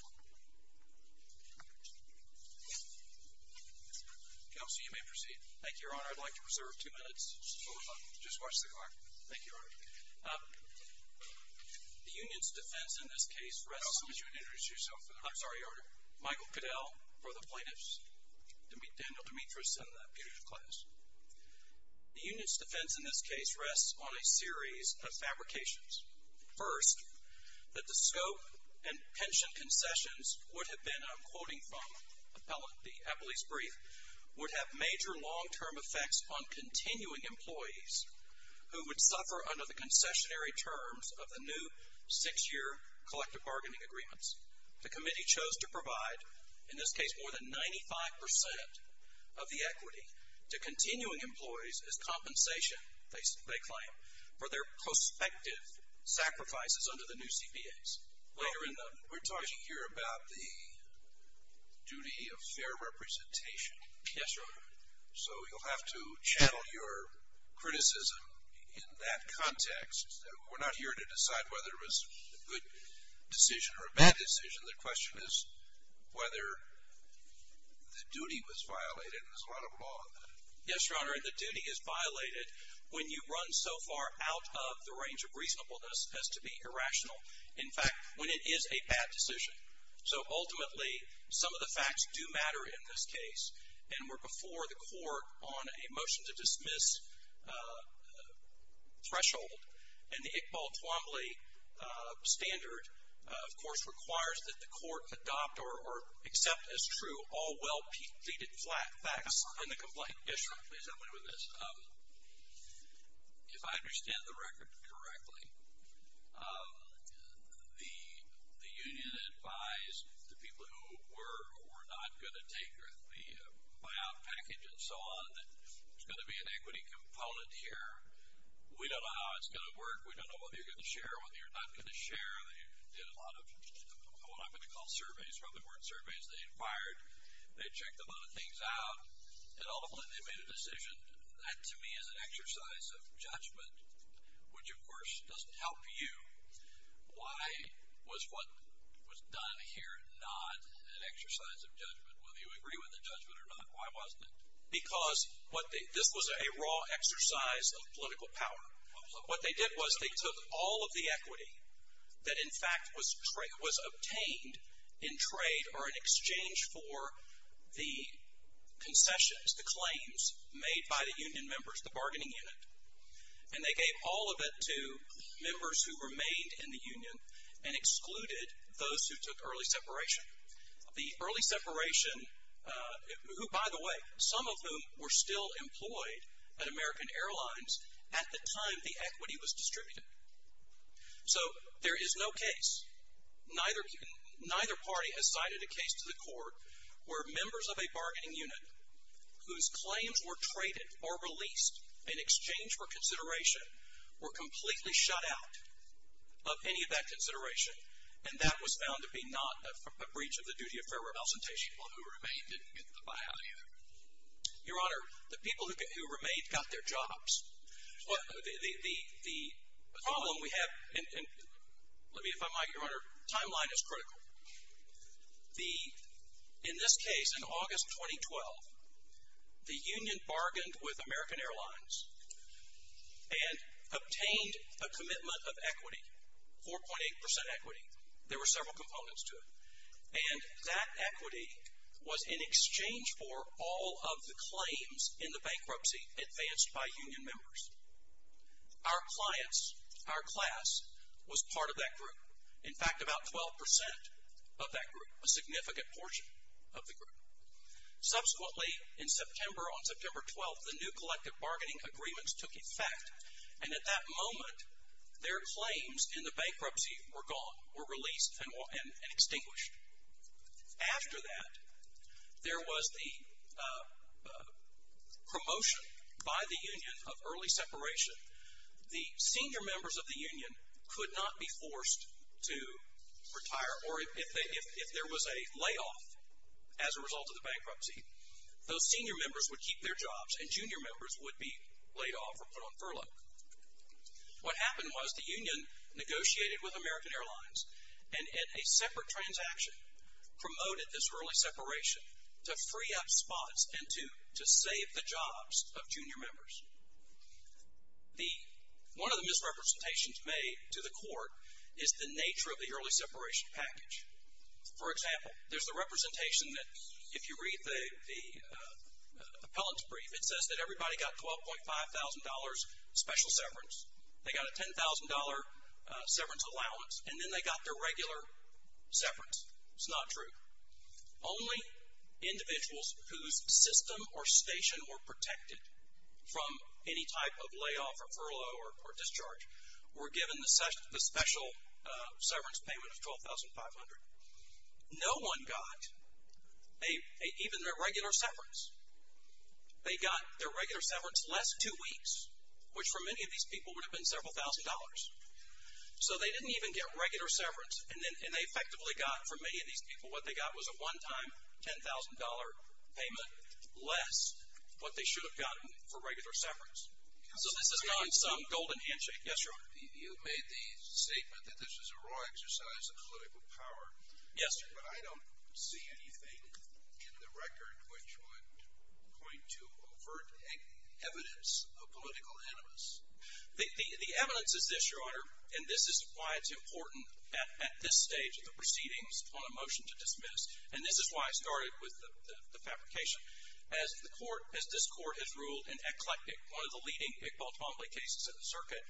Council, you may proceed. Thank you, Your Honor. I'd like to reserve two minutes. Just watch the clock. Thank you, Your Honor. The Union's defense in this case rests on a series of fabrications. First, that the scope and pension concessions would have been, I'm quoting from the appellee's brief, would have major long-term effects on continuing employees who would suffer under the concessionary terms of the new six-year collective bargaining agreements. The committee chose to provide, in this case, more than 95% of the equity to continuing employees as compensation, they claim, for their prospective sacrifices under the new CPAs. Well, we're talking here about the duty of fair representation. Yes, Your Honor. So you'll have to channel your criticism in that context. We're not here to decide whether it was a good decision or a bad decision. The question is whether the duty was violated, and there's a lot of law in that. Yes, Your Honor, and the duty is violated when you run so far out of the range of reasonableness as to be irrational. In fact, when it is a bad decision. So ultimately, some of the facts do matter in this case, and we're before the court on a motion to dismiss threshold. And the Iqbal Twombly standard, of course, requires that the court adopt or accept as true all well-pleaded facts in the complaint. Yes, Your Honor, please help me with this. If I understand the record correctly, the union advised the people who were not going to take the buyout package and so on that there's going to be an equity component here. We don't know how it's going to work. We don't know whether you're going to share or whether you're not going to share. They did a lot of what I'm going to call surveys. Probably weren't surveys. They fired. They checked a lot of things out, and ultimately, they made a decision. That, to me, is an exercise of judgment, which, of course, doesn't help you. Why was what was done here not an exercise of judgment? Whether you agree with the judgment or not, why wasn't it? Because this was a raw exercise of political power. What they did was they took all of the equity that, in fact, was obtained in trade or in exchange for the concessions, the claims made by the union members, the bargaining unit, and they gave all of it to members who remained in the union and excluded those who took early separation. The early separation, who, by the way, some of whom were still employed at American Airlines at the time the equity was distributed. So there is no case. Neither party has cited a case to the court where members of a bargaining unit whose claims were traded or released in exchange for consideration were completely shut out of any of that consideration, and that was found to be not a breach of the duty of fair remuneration. Well, who remained didn't get the buyout either. Your Honor, the people who remained got their jobs. The problem we have, and let me, if I might, Your Honor, timeline is critical. In this case, in August 2012, the union bargained with American Airlines and obtained a commitment of equity, 4.8% equity. There were several components to it. And that equity was in exchange for all of the claims in the bankruptcy advanced by union members. Our clients, our class, was part of that group. In fact, about 12% of that group, a significant portion of the group. Subsequently, in September, on September 12th, the new collective bargaining agreements took effect, and at that moment their claims in the bankruptcy were gone, were released and extinguished. After that, there was the promotion by the union of early separation. The senior members of the union could not be forced to retire, or if there was a layoff as a result of the bankruptcy, those senior members would keep their jobs and junior members would be laid off or put on furlough. What happened was the union negotiated with American Airlines and in a separate transaction promoted this early separation to free up spots and to save the jobs of junior members. One of the misrepresentations made to the court is the nature of the early separation package. For example, there's the representation that if you read the appellant's brief, it says that everybody got $12,500 special severance. They got a $10,000 severance allowance, and then they got their regular severance. It's not true. Only individuals whose system or station were protected from any type of layoff or furlough or discharge were given the special severance payment of $12,500. No one got even their regular severance. They got their regular severance less two weeks, which for many of these people would have been several thousand dollars. So they didn't even get regular severance, and they effectively got, for many of these people, what they got was a one-time $10,000 payment less what they should have gotten for regular severance. So this is not some golden handshake. Yes, sir? You made the statement that this is a raw exercise of political power. Yes, sir. But I don't see anything in the record which would point to overt evidence of political animus. The evidence is this, Your Honor, and this is why it's important at this stage of the proceedings on a motion to dismiss, and this is why I started with the fabrication. As this court has ruled in Eclectic, one of the leading McBall-Tomley cases in the circuit,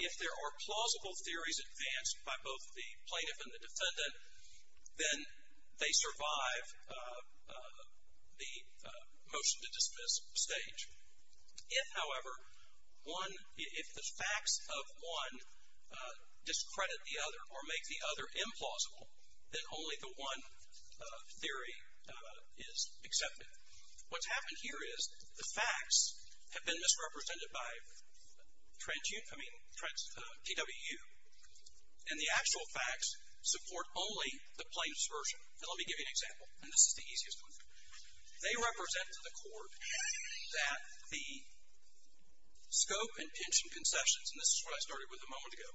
if there are plausible theories advanced by both the plaintiff and the defendant, then they survive the motion to dismiss stage. If, however, if the facts of one discredit the other or make the other implausible, then only the one theory is accepted. What's happened here is the facts have been misrepresented by DWU, and the actual facts support only the plaintiff's version. Now let me give you an example, and this is the easiest one. They represent to the court that the scope and pension concessions, and this is what I started with a moment ago,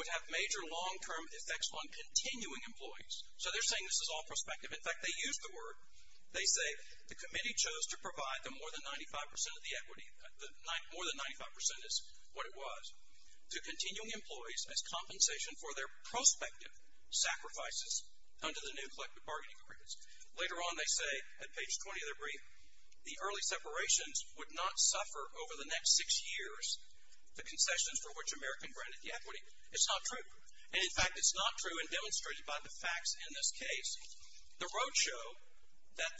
would have major long-term effects on continuing employees. So they're saying this is all prospective. In fact, they use the word. They say the committee chose to provide the more than 95 percent of the equity, more than 95 percent is what it was, to continuing employees as compensation for their prospective sacrifices under the new collective bargaining agreements. Later on they say, at page 20 of their brief, the early separations would not suffer over the next six years the concessions for which American granted the equity. It's not true. And, in fact, it's not true and demonstrated by the facts in this case. The roadshow that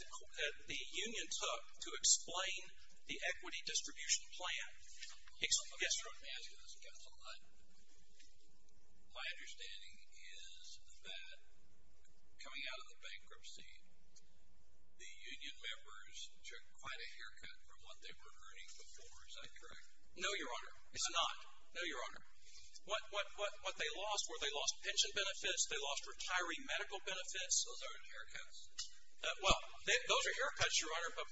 the union took to explain the equity distribution plan. Let me ask you this, counsel. My understanding is that coming out of the bankruptcy, the union members took quite a haircut from what they were earning before. Is that correct? No, Your Honor. It's not. No, Your Honor. What they lost were they lost pension benefits, they lost retiree medical benefits. Well, those are haircuts, Your Honor, but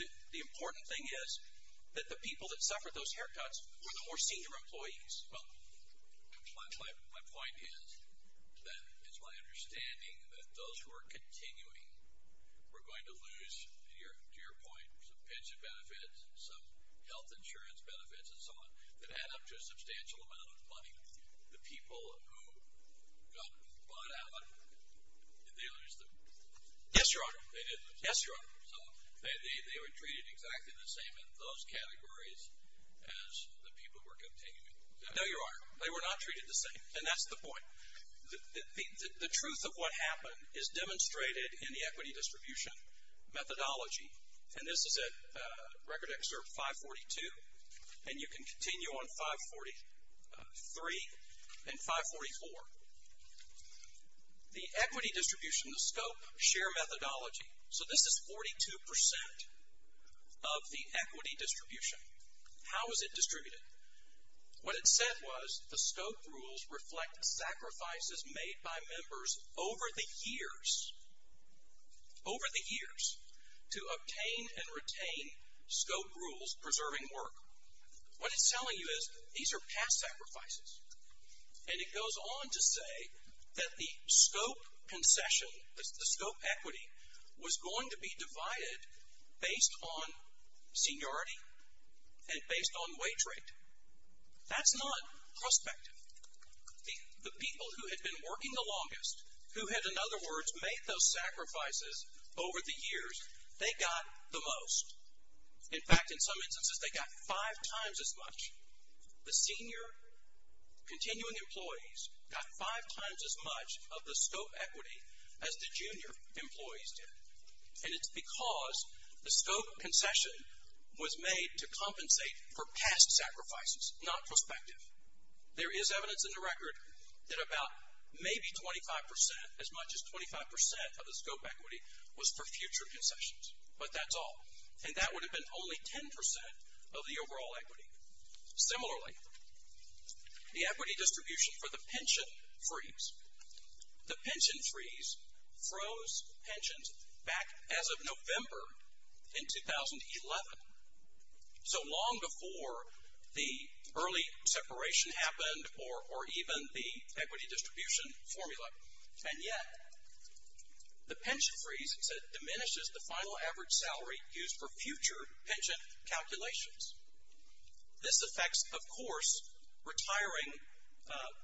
the important thing is that the people that suffered those haircuts were the more senior employees. Well, my point is that it's my understanding that those who are continuing were going to lose, to your point, some pension benefits, some health insurance benefits and so on that add up to a substantial amount of money. The people who got bought out, did they lose them? They did lose them. Yes, Your Honor. So they were treated exactly the same in those categories as the people who were continuing. No, Your Honor. They were not treated the same, and that's the point. The truth of what happened is demonstrated in the equity distribution methodology, and this is at Record Excerpt 542, and you can continue on 543 and 544. The equity distribution, the scope, share methodology. So this is 42% of the equity distribution. How is it distributed? What it said was the scope rules reflect sacrifices made by members over the years, over the years, to obtain and retain scope rules preserving work. What it's telling you is these are past sacrifices, and it goes on to say that the scope concession, the scope equity, was going to be divided based on seniority and based on wage rate. That's not prospective. The people who had been working the longest, who had, in other words, made those sacrifices over the years, they got the most. In fact, in some instances, they got five times as much. The senior continuing employees got five times as much of the scope equity as the junior employees did, and it's because the scope concession was made to compensate for past sacrifices, not prospective. There is evidence in the record that about maybe 25%, as much as 25% of the scope equity, was for future concessions, but that's all, and that would have been only 10% of the overall equity. Similarly, the equity distribution for the pension freeze. The pension freeze froze pensions back as of November in 2011, so long before the early separation happened or even the equity distribution formula, and yet the pension freeze diminishes the final average salary used for future pension calculations. This affects, of course, retiring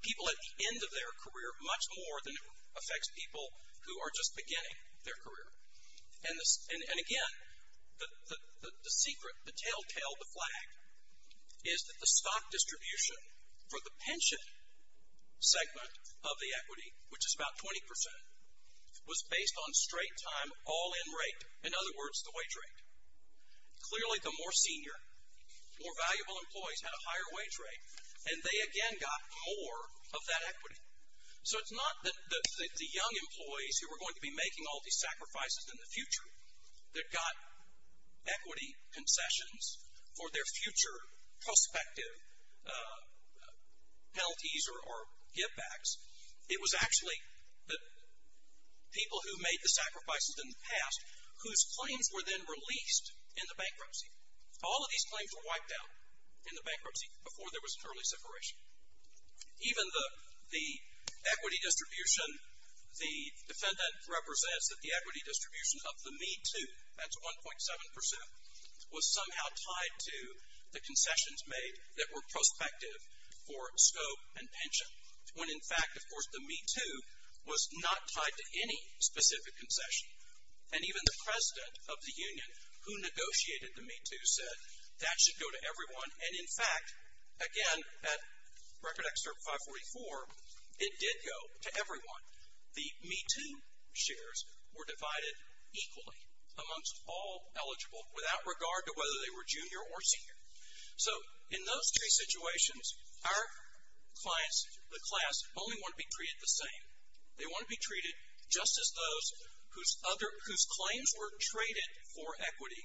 people at the end of their career much more than it affects people who are just beginning their career. And again, the secret, the telltale, the flag, is that the stock distribution for the pension segment of the equity, which is about 20%, was based on straight-time, all-in rate, in other words, the wage rate. Clearly, the more senior, more valuable employees had a higher wage rate, and they again got more of that equity. So it's not the young employees who were going to be making all these sacrifices in the future that got equity concessions for their future prospective penalties or givebacks. It was actually the people who made the sacrifices in the past whose claims were then released in the bankruptcy. All of these claims were wiped out in the bankruptcy before there was an early separation. Even the equity distribution, the defendant represents that the equity distribution of the Me Too, that's 1.7%, was somehow tied to the concessions made that were prospective for scope and pension, when in fact, of course, the Me Too was not tied to any specific concession. And even the president of the union who negotiated the Me Too said that should go to everyone, and in fact, again, at Record Excerpt 544, it did go to everyone. The Me Too shares were divided equally amongst all eligible, without regard to whether they were junior or senior. So in those three situations, our clients, the class, only want to be treated the same. They want to be treated just as those whose claims were traded for equity.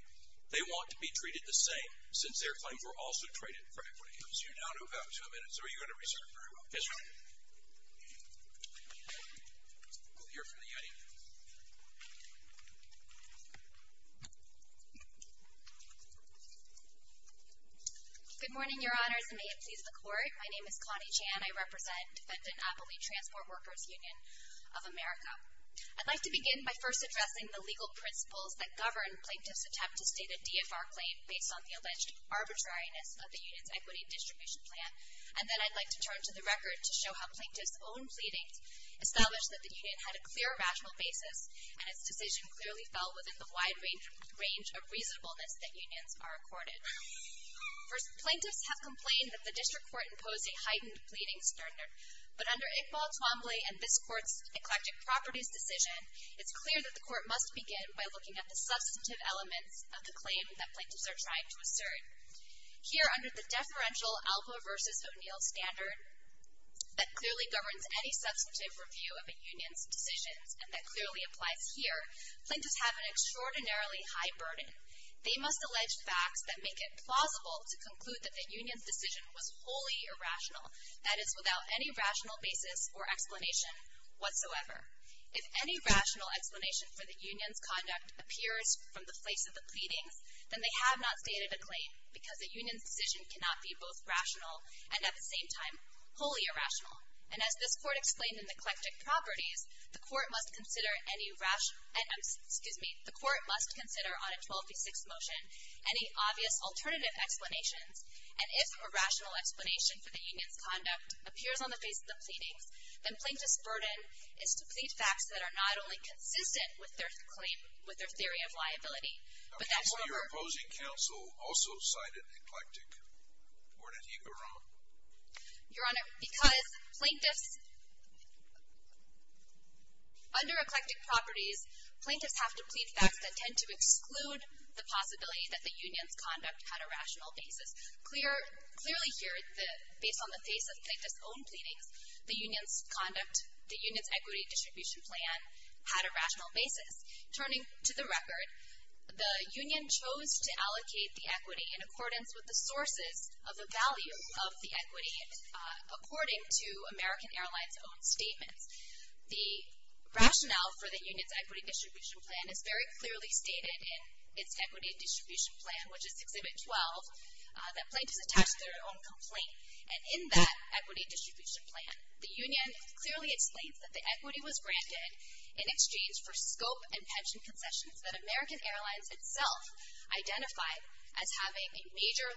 They want to be treated the same, since their claims were also traded for equity. So you now have about two minutes, or are you going to reserve very well? Yes, Your Honor. Good morning, Your Honors, and may it please the Court. My name is Connie Chan. I represent Defendant Appley Transport Workers Union of America. I'd like to begin by first addressing the legal principles that govern Plaintiff's attempt to state a DFR claim based on the alleged arbitrariness of the union's equity distribution plan. And then I'd like to turn to the record to show how Plaintiff's own pleadings established that the union had a clear, rational basis, and its decision clearly fell within the wide range of reasonableness that unions are accorded. First, Plaintiffs have complained that the District Court imposed a heightened pleading standard. But under Iqbal Twombly and this Court's Eclectic Properties decision, it's clear that the Court must begin by looking at the substantive elements of the claim that Plaintiffs are trying to assert. Here, under the deferential Alva v. O'Neill standard, that clearly governs any substantive review of a union's decisions, and that clearly applies here, Plaintiffs have an extraordinarily high burden. They must allege facts that make it plausible to conclude that the union's decision was wholly irrational, that is, without any rational basis or explanation whatsoever. If any rational explanation for the union's conduct appears from the place of the pleadings, then they have not stated a claim, because a union's decision cannot be both rational and, at the same time, wholly irrational. And as this Court explained in Eclectic Properties, the Court must consider on a 12 v. 6 motion any obvious alternative explanations, and if a rational explanation for the union's conduct appears on the face of the pleadings, then Plaintiffs' burden is to plead facts that are not only consistent with their claim, with their theory of liability, but that, however— Now, can you tell me why your opposing counsel also cited Eclectic? Or did he go wrong? Your Honor, because Plaintiffs, under Eclectic Properties, Plaintiffs have to plead facts that tend to exclude the possibility that the union's conduct had a rational basis. Clearly here, based on the face of Plaintiffs' own pleadings, the union's conduct, the union's equity distribution plan, had a rational basis. Turning to the record, the union chose to allocate the equity in accordance with the sources of the value of the equity, according to American Airlines' own statements. The rationale for the union's equity distribution plan is very clearly stated in its equity distribution plan, which is Exhibit 12, that Plaintiffs attached their own complaint. And in that equity distribution plan, the union clearly explains that the equity was granted in exchange for scope and pension concessions that American Airlines itself identified as having a major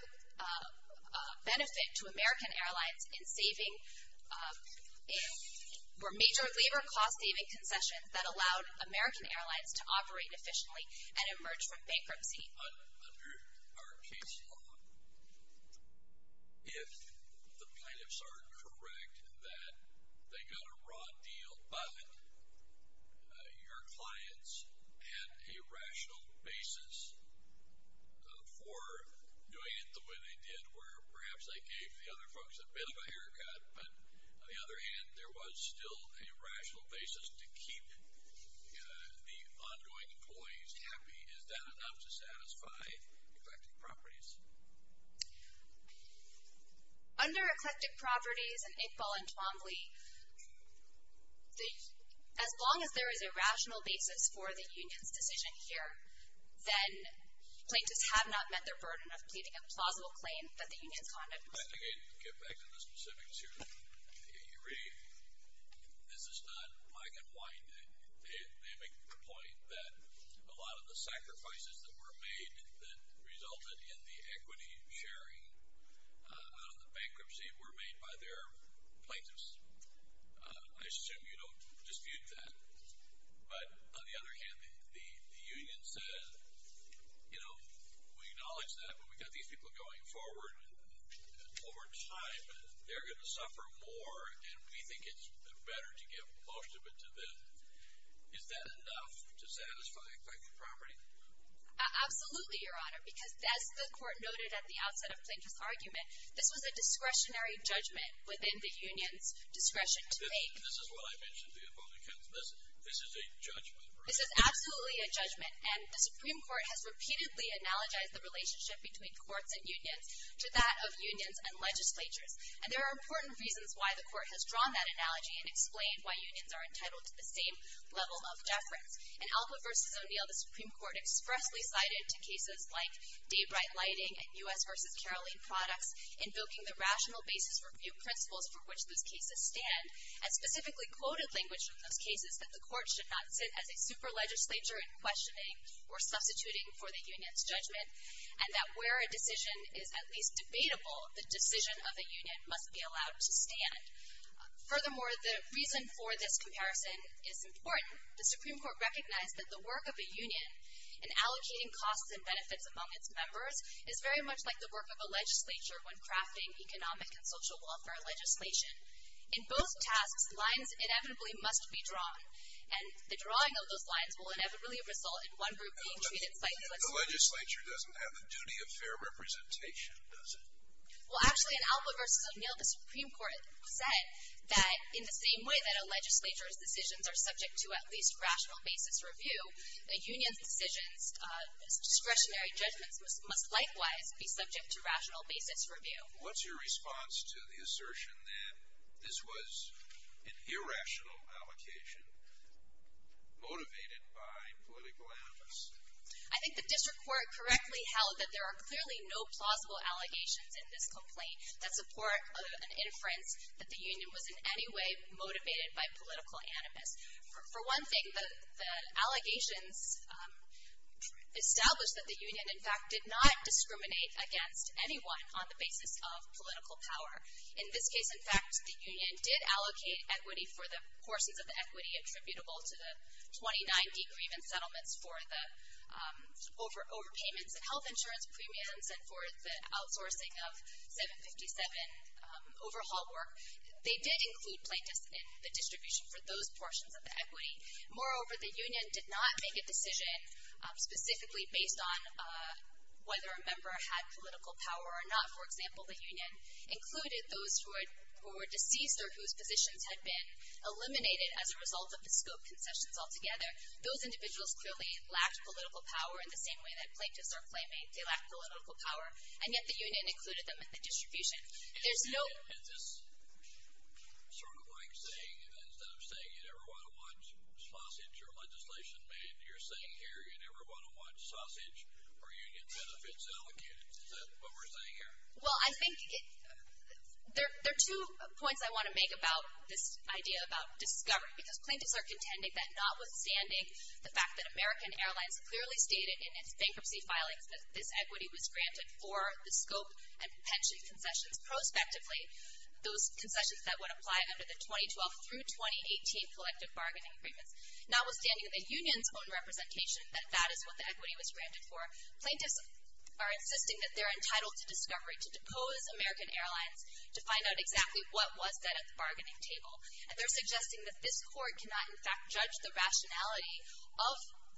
benefit to American Airlines in saving, were major labor cost-saving concessions that allowed American Airlines to operate efficiently and emerge from bankruptcy. But under our case law, if the Plaintiffs are correct that they got a raw deal, but your clients had a rational basis for doing it the way they did, where perhaps they gave the other folks a bit of a haircut, but on the other hand, there was still a rational basis to keep the ongoing employees happy, is that enough to satisfy eclectic properties? Under eclectic properties and Iqbal and Twombly, as long as there is a rational basis for the union's decision here, then Plaintiffs have not met their burden of pleading a plausible claim that the union's conduct was fair. Let me get back to the specifics here. You're right. This is not black and white. They make the point that a lot of the sacrifices that were made that resulted in the equity sharing out of the bankruptcy were made by their Plaintiffs. I assume you don't dispute that. But on the other hand, the union says, you know, we acknowledge that, but we've got these people going forward, and over time, they're going to suffer more, and we think it's better to give most of it to them. Is that enough to satisfy eclectic property? Absolutely, Your Honor, because as the Court noted at the outset of Plaintiff's argument, this was a discretionary judgment within the union's discretion to make. This is what I mentioned to Iqbal and Twombly. This is a judgment. This is absolutely a judgment, and the Supreme Court has repeatedly analogized the relationship between courts and unions to that of unions and legislatures. And there are important reasons why the Court has drawn that analogy and explained why unions are entitled to the same level of deference. In Alcott v. O'Neill, the Supreme Court expressly cited cases like Daybright Lighting and U.S. v. Caroline Products, invoking the rational basis review principles for which those cases stand, and specifically quoted language from those cases that the Court should not sit as a super legislature in questioning or substituting for the union's judgment, and that where a decision is at least debatable, the decision of the union must be allowed to stand. Furthermore, the reason for this comparison is important. The Supreme Court recognized that the work of a union in allocating costs and benefits among its members is very much like the work of a legislature when crafting economic and social welfare legislation. In both tasks, lines inevitably must be drawn, and the drawing of those lines will inevitably result in one group being treated slightly like the other. The legislature doesn't have the duty of fair representation, does it? Well, actually, in Alcott v. O'Neill, the Supreme Court said that, in the same way that a legislature's decisions are subject to at least rational basis review, a union's decisions, discretionary judgments, must likewise be subject to rational basis review. What's your response to the assertion that this was an irrational allocation motivated by political animus? I think the district court correctly held that there are clearly no plausible allegations in this complaint that support an inference that the union was in any way motivated by political animus. For one thing, the allegations established that the union, in fact, did not discriminate against anyone on the basis of political power. In this case, in fact, the union did allocate equity for the portions of the equity attributable to the 29 degreement settlements for the overpayments of health insurance premiums and for the outsourcing of 757 overhaul work. They did include plaintiffs in the distribution for those portions of the equity. Moreover, the union did not make a decision specifically based on whether a member had political power or not. For example, the union included those who were deceased or whose positions had been eliminated as a result of the scope concessions altogether. Those individuals clearly lacked political power in the same way that plaintiffs are claiming they lack political power, and yet the union included them in the distribution. Is this sort of like saying, instead of saying you never want to watch sausage or legislation made, you're saying here you never want to watch sausage or union benefits allocated? Is that what we're saying here? Well, I think there are two points I want to make about this idea about discovery because plaintiffs are contending that notwithstanding the fact that American Airlines clearly stated in its bankruptcy filings that this equity was granted for the scope and pension concessions prospectively, those concessions that would apply under the 2012 through 2018 collective bargaining agreements, notwithstanding the union's own representation that that is what the equity was granted for, plaintiffs are insisting that they're entitled to discovery to depose American Airlines to find out exactly what was said at the bargaining table. And they're suggesting that this court cannot, in fact, judge the rationality of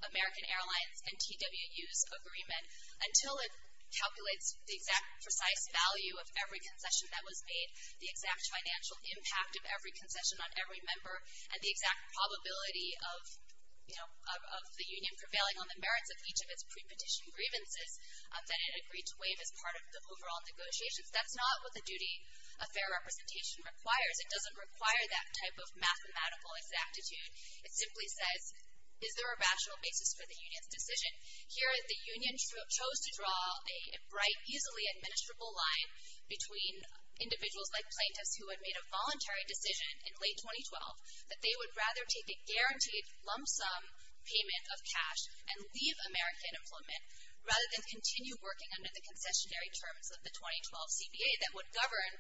American Airlines and TWU's agreement until it calculates the exact precise value of every concession that was made, the exact financial impact of every concession on every member, and the exact probability of the union prevailing on the merits of each of its pre-petition grievances that it agreed to waive as part of the overall negotiations. That's not what the duty of fair representation requires. It doesn't require that type of mathematical exactitude. It simply says, is there a rational basis for the union's decision? Here, the union chose to draw a bright, easily administrable line between individuals like plaintiffs who had made a voluntary decision in late 2012 that they would rather take a guaranteed lump sum payment of cash and leave American employment rather than continue working under the concessionary terms of the 2012 CBA that would govern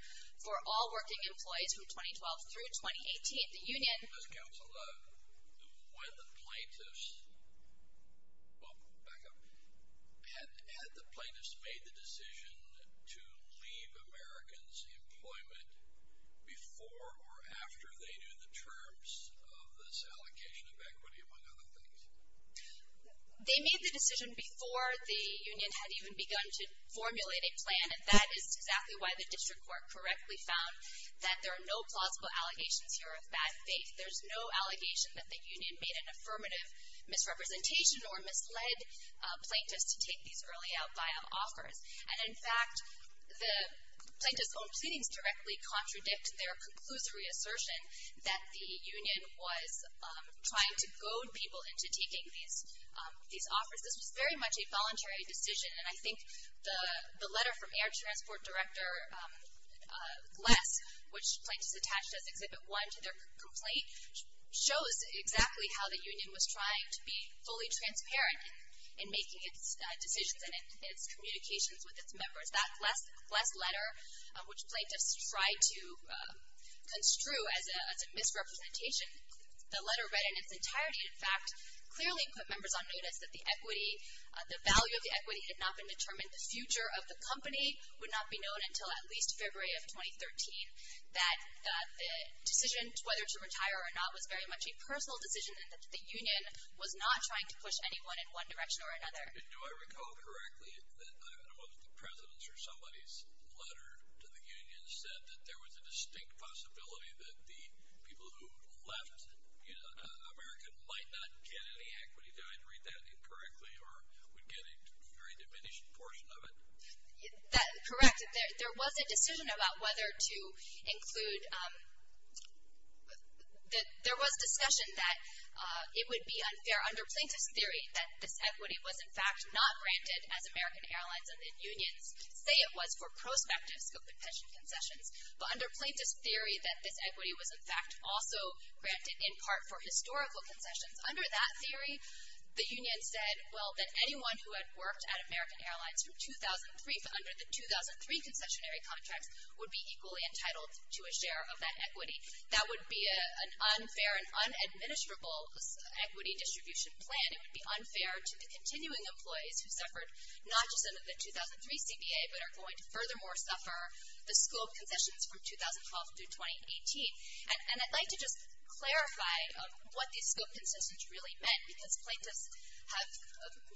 for all working employees from 2012 through 2018. The union... Ms. Counsel, when the plaintiffs... Back up. Had the plaintiffs made the decision to leave Americans employment before or after they knew the terms of this allocation of equity, among other things? They made the decision before the union had even begun to formulate a plan, and that is exactly why the district court correctly found that there are no plausible allegations here of bad faith. There's no allegation that the union made an affirmative misrepresentation or misled plaintiffs to take these early out buyout offers. And in fact, the plaintiffs' own proceedings directly contradict their conclusory assertion that the union was trying to goad people into taking these offers. This was very much a voluntary decision, and I think the letter from Air Transport Director Gless, which plaintiffs attached as Exhibit 1 to their complaint, shows exactly how the union was trying to be fully transparent in making its decisions and in its communications with its members. That Gless letter, which plaintiffs tried to construe as a misrepresentation, the letter read in its entirety, in fact, clearly put members on notice that the equity, the value of the equity had not been determined. The future of the company would not be known until at least February of 2013, that the decision whether to retire or not was very much a personal decision and that the union was not trying to push anyone in one direction or another. And do I recall correctly that one of the presidents or somebody's letter to the union said that there was a distinct possibility that the people who left America might not get any equity? Did I read that incorrectly or would get a very diminished portion of it? Correct. There was a decision about whether to include, there was discussion that it would be unfair under plaintiff's theory that this equity was, in fact, not granted as American Airlines and unions say it was for prospective scope and pension concessions, but under plaintiff's theory that this equity was, in fact, also granted in part for historical concessions. Under that theory, the union said, well, that anyone who had worked at American Airlines from 2003, but under the 2003 concessionary contracts, would be equally entitled to a share of that equity. That would be an unfair and unadministrable equity distribution plan. It would be unfair to the continuing employees who suffered not just under the 2003 CBA, but are going to furthermore suffer the scope concessions from 2012 through 2018. And I'd like to just clarify what these scope concessions really meant, because plaintiffs have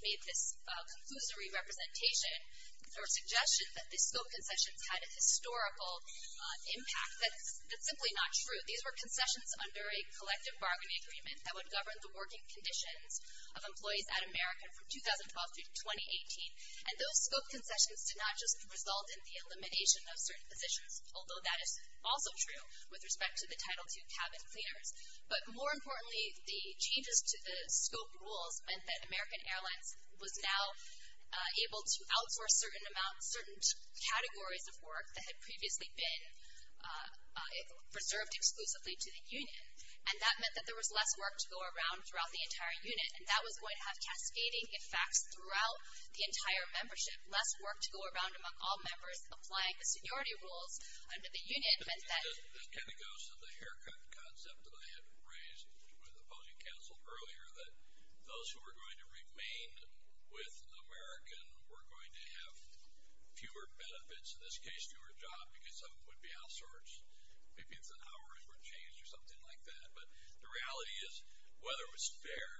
made this conclusory representation or suggestion that these scope concessions had a historical impact. That's simply not true. These were concessions under a collective bargaining agreement that would govern the working conditions of employees at American from 2012 through 2018. And those scope concessions did not just result in the elimination of certain positions, although that is also true with respect to the Title II cabin cleaners. But more importantly, the changes to the scope rules meant that American Airlines was now able to outsource certain amounts, certain categories of work that had previously been preserved exclusively to the union. And that meant that there was less work to go around throughout the entire unit, and that was going to have cascading effects throughout the entire membership. Less work to go around among all members applying the seniority rules under the union meant that- This kind of goes to the haircut concept that I had raised with opposing counsel earlier, that those who were going to remain with American were going to have fewer benefits, in this case fewer jobs, because some of them would be outsourced. Maybe it's that hours were changed or something like that. But the reality is, whether it was fair,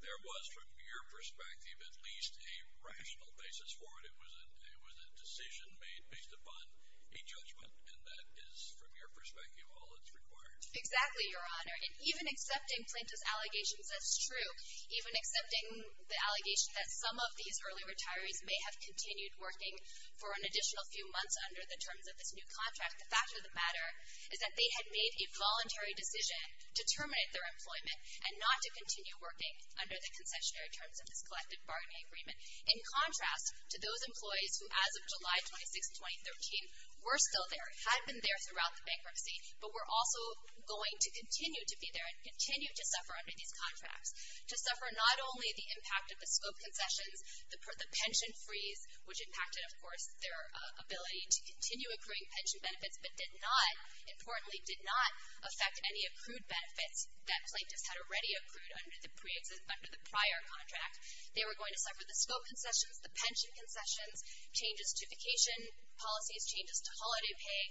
there was, from your perspective, at least a rational basis for it. It was a decision made based upon a judgment, and that is, from your perspective, all that's required. Exactly, Your Honor. And even accepting Planta's allegations as true, even accepting the allegation that some of these early retirees may have continued working for an additional few months under the terms of this new contract, the fact of the matter is that they had made a voluntary decision to terminate their employment and not to continue working under the concessionary terms of this collective bargaining agreement, in contrast to those employees who, as of July 26, 2013, were still there, had been there throughout the bankruptcy, but were also going to continue to be there and continue to suffer under these contracts, to suffer not only the impact of the scope concessions, the pension freeze, which impacted, of course, their ability to continue accruing pension benefits, but did not, importantly, did not affect any accrued benefits that Planta's had already accrued under the prior contract. They were going to suffer the scope concessions, the pension concessions, changes to vacation policies, changes to holiday pay,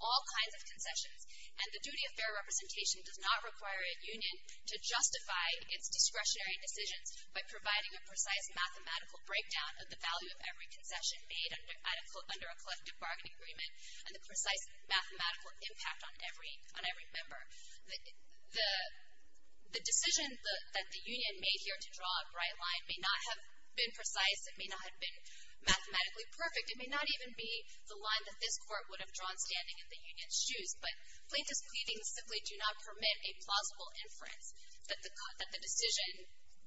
all kinds of concessions. And the duty of fair representation does not require a union to justify its discretionary decisions by providing a precise mathematical breakdown of the value of every concession made under a collective bargaining agreement and the precise mathematical impact on every member. The decision that the union made here to draw a bright line may not have been precise. It may not have been mathematically perfect. It may not even be the line that this Court would have drawn standing in the union's shoes. But Planta's pleadings simply do not permit a plausible inference that the decision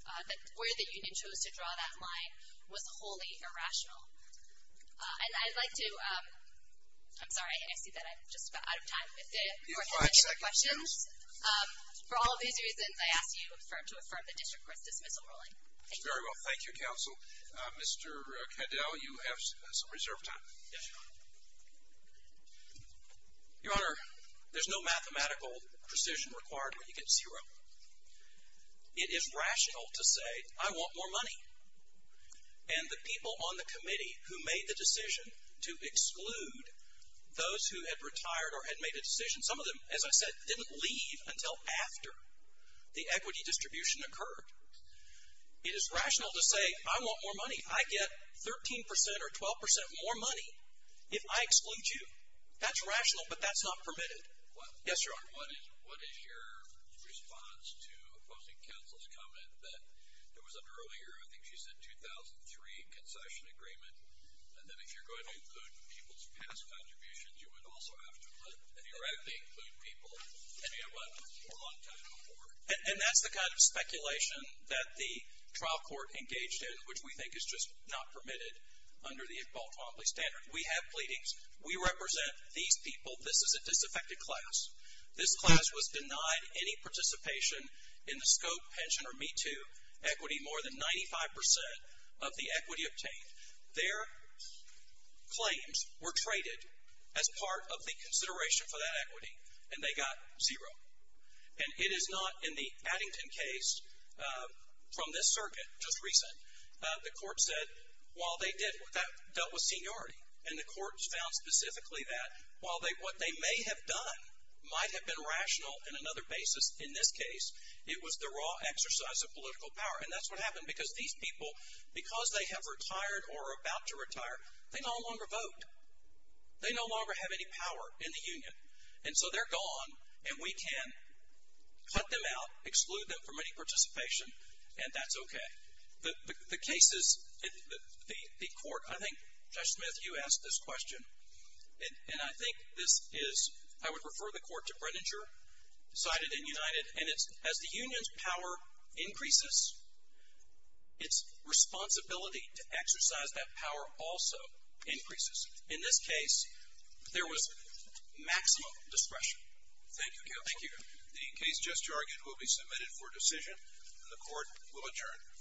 where the union chose to draw that line was wholly irrational. And I'd like to ‑‑ I'm sorry. I see that I'm just about out of time. If there are any other questions. For all of these reasons, I ask you to affirm the district court's dismissal ruling. Thank you. Very well. Thank you, counsel. Mr. Kendall, you have some reserve time. Yes, Your Honor. Your Honor, there's no mathematical precision required when you get zero. It is rational to say, I want more money. And the people on the committee who made the decision to exclude those who had retired or had made a decision, some of them, as I said, didn't leave until after the equity distribution occurred. It is rational to say, I want more money. I get 13% or 12% more money if I exclude you. That's rational, but that's not permitted. Yes, Your Honor. What is your response to opposing counsel's comment that there was an earlier, I think she said 2003, concession agreement, and that if you're going to include people's past contributions, you would also have to include people, and you know what, for a long time before. And that's the kind of speculation that the trial court engaged in, which we think is just not permitted under the Equal Equality Standard. We have pleadings. We represent these people. This is a disaffected class. This class was denied any participation in the SCOPE, pension, or Me Too equity. More than 95% of the equity obtained. Their claims were traded as part of the consideration for that equity, and they got zero. And it is not in the Addington case, from this circuit, just recent, the court said while they did, that dealt with seniority, and the court found specifically that while what they may have done might have been rational in another basis, in this case, it was the raw exercise of political power. And that's what happened because these people, because they have retired or are about to retire, they no longer vote. They no longer have any power in the union. And so they're gone, and we can cut them out, exclude them from any participation, and that's okay. The cases, the court, I think, Judge Smith, you asked this question, and I think this is, I would refer the court to Brenninger, cited in United, and it's as the union's power increases, its responsibility to exercise that power also increases. In this case, there was maximum discretion. Thank you, counsel. Thank you. The case just argued will be submitted for decision, and the court will adjourn.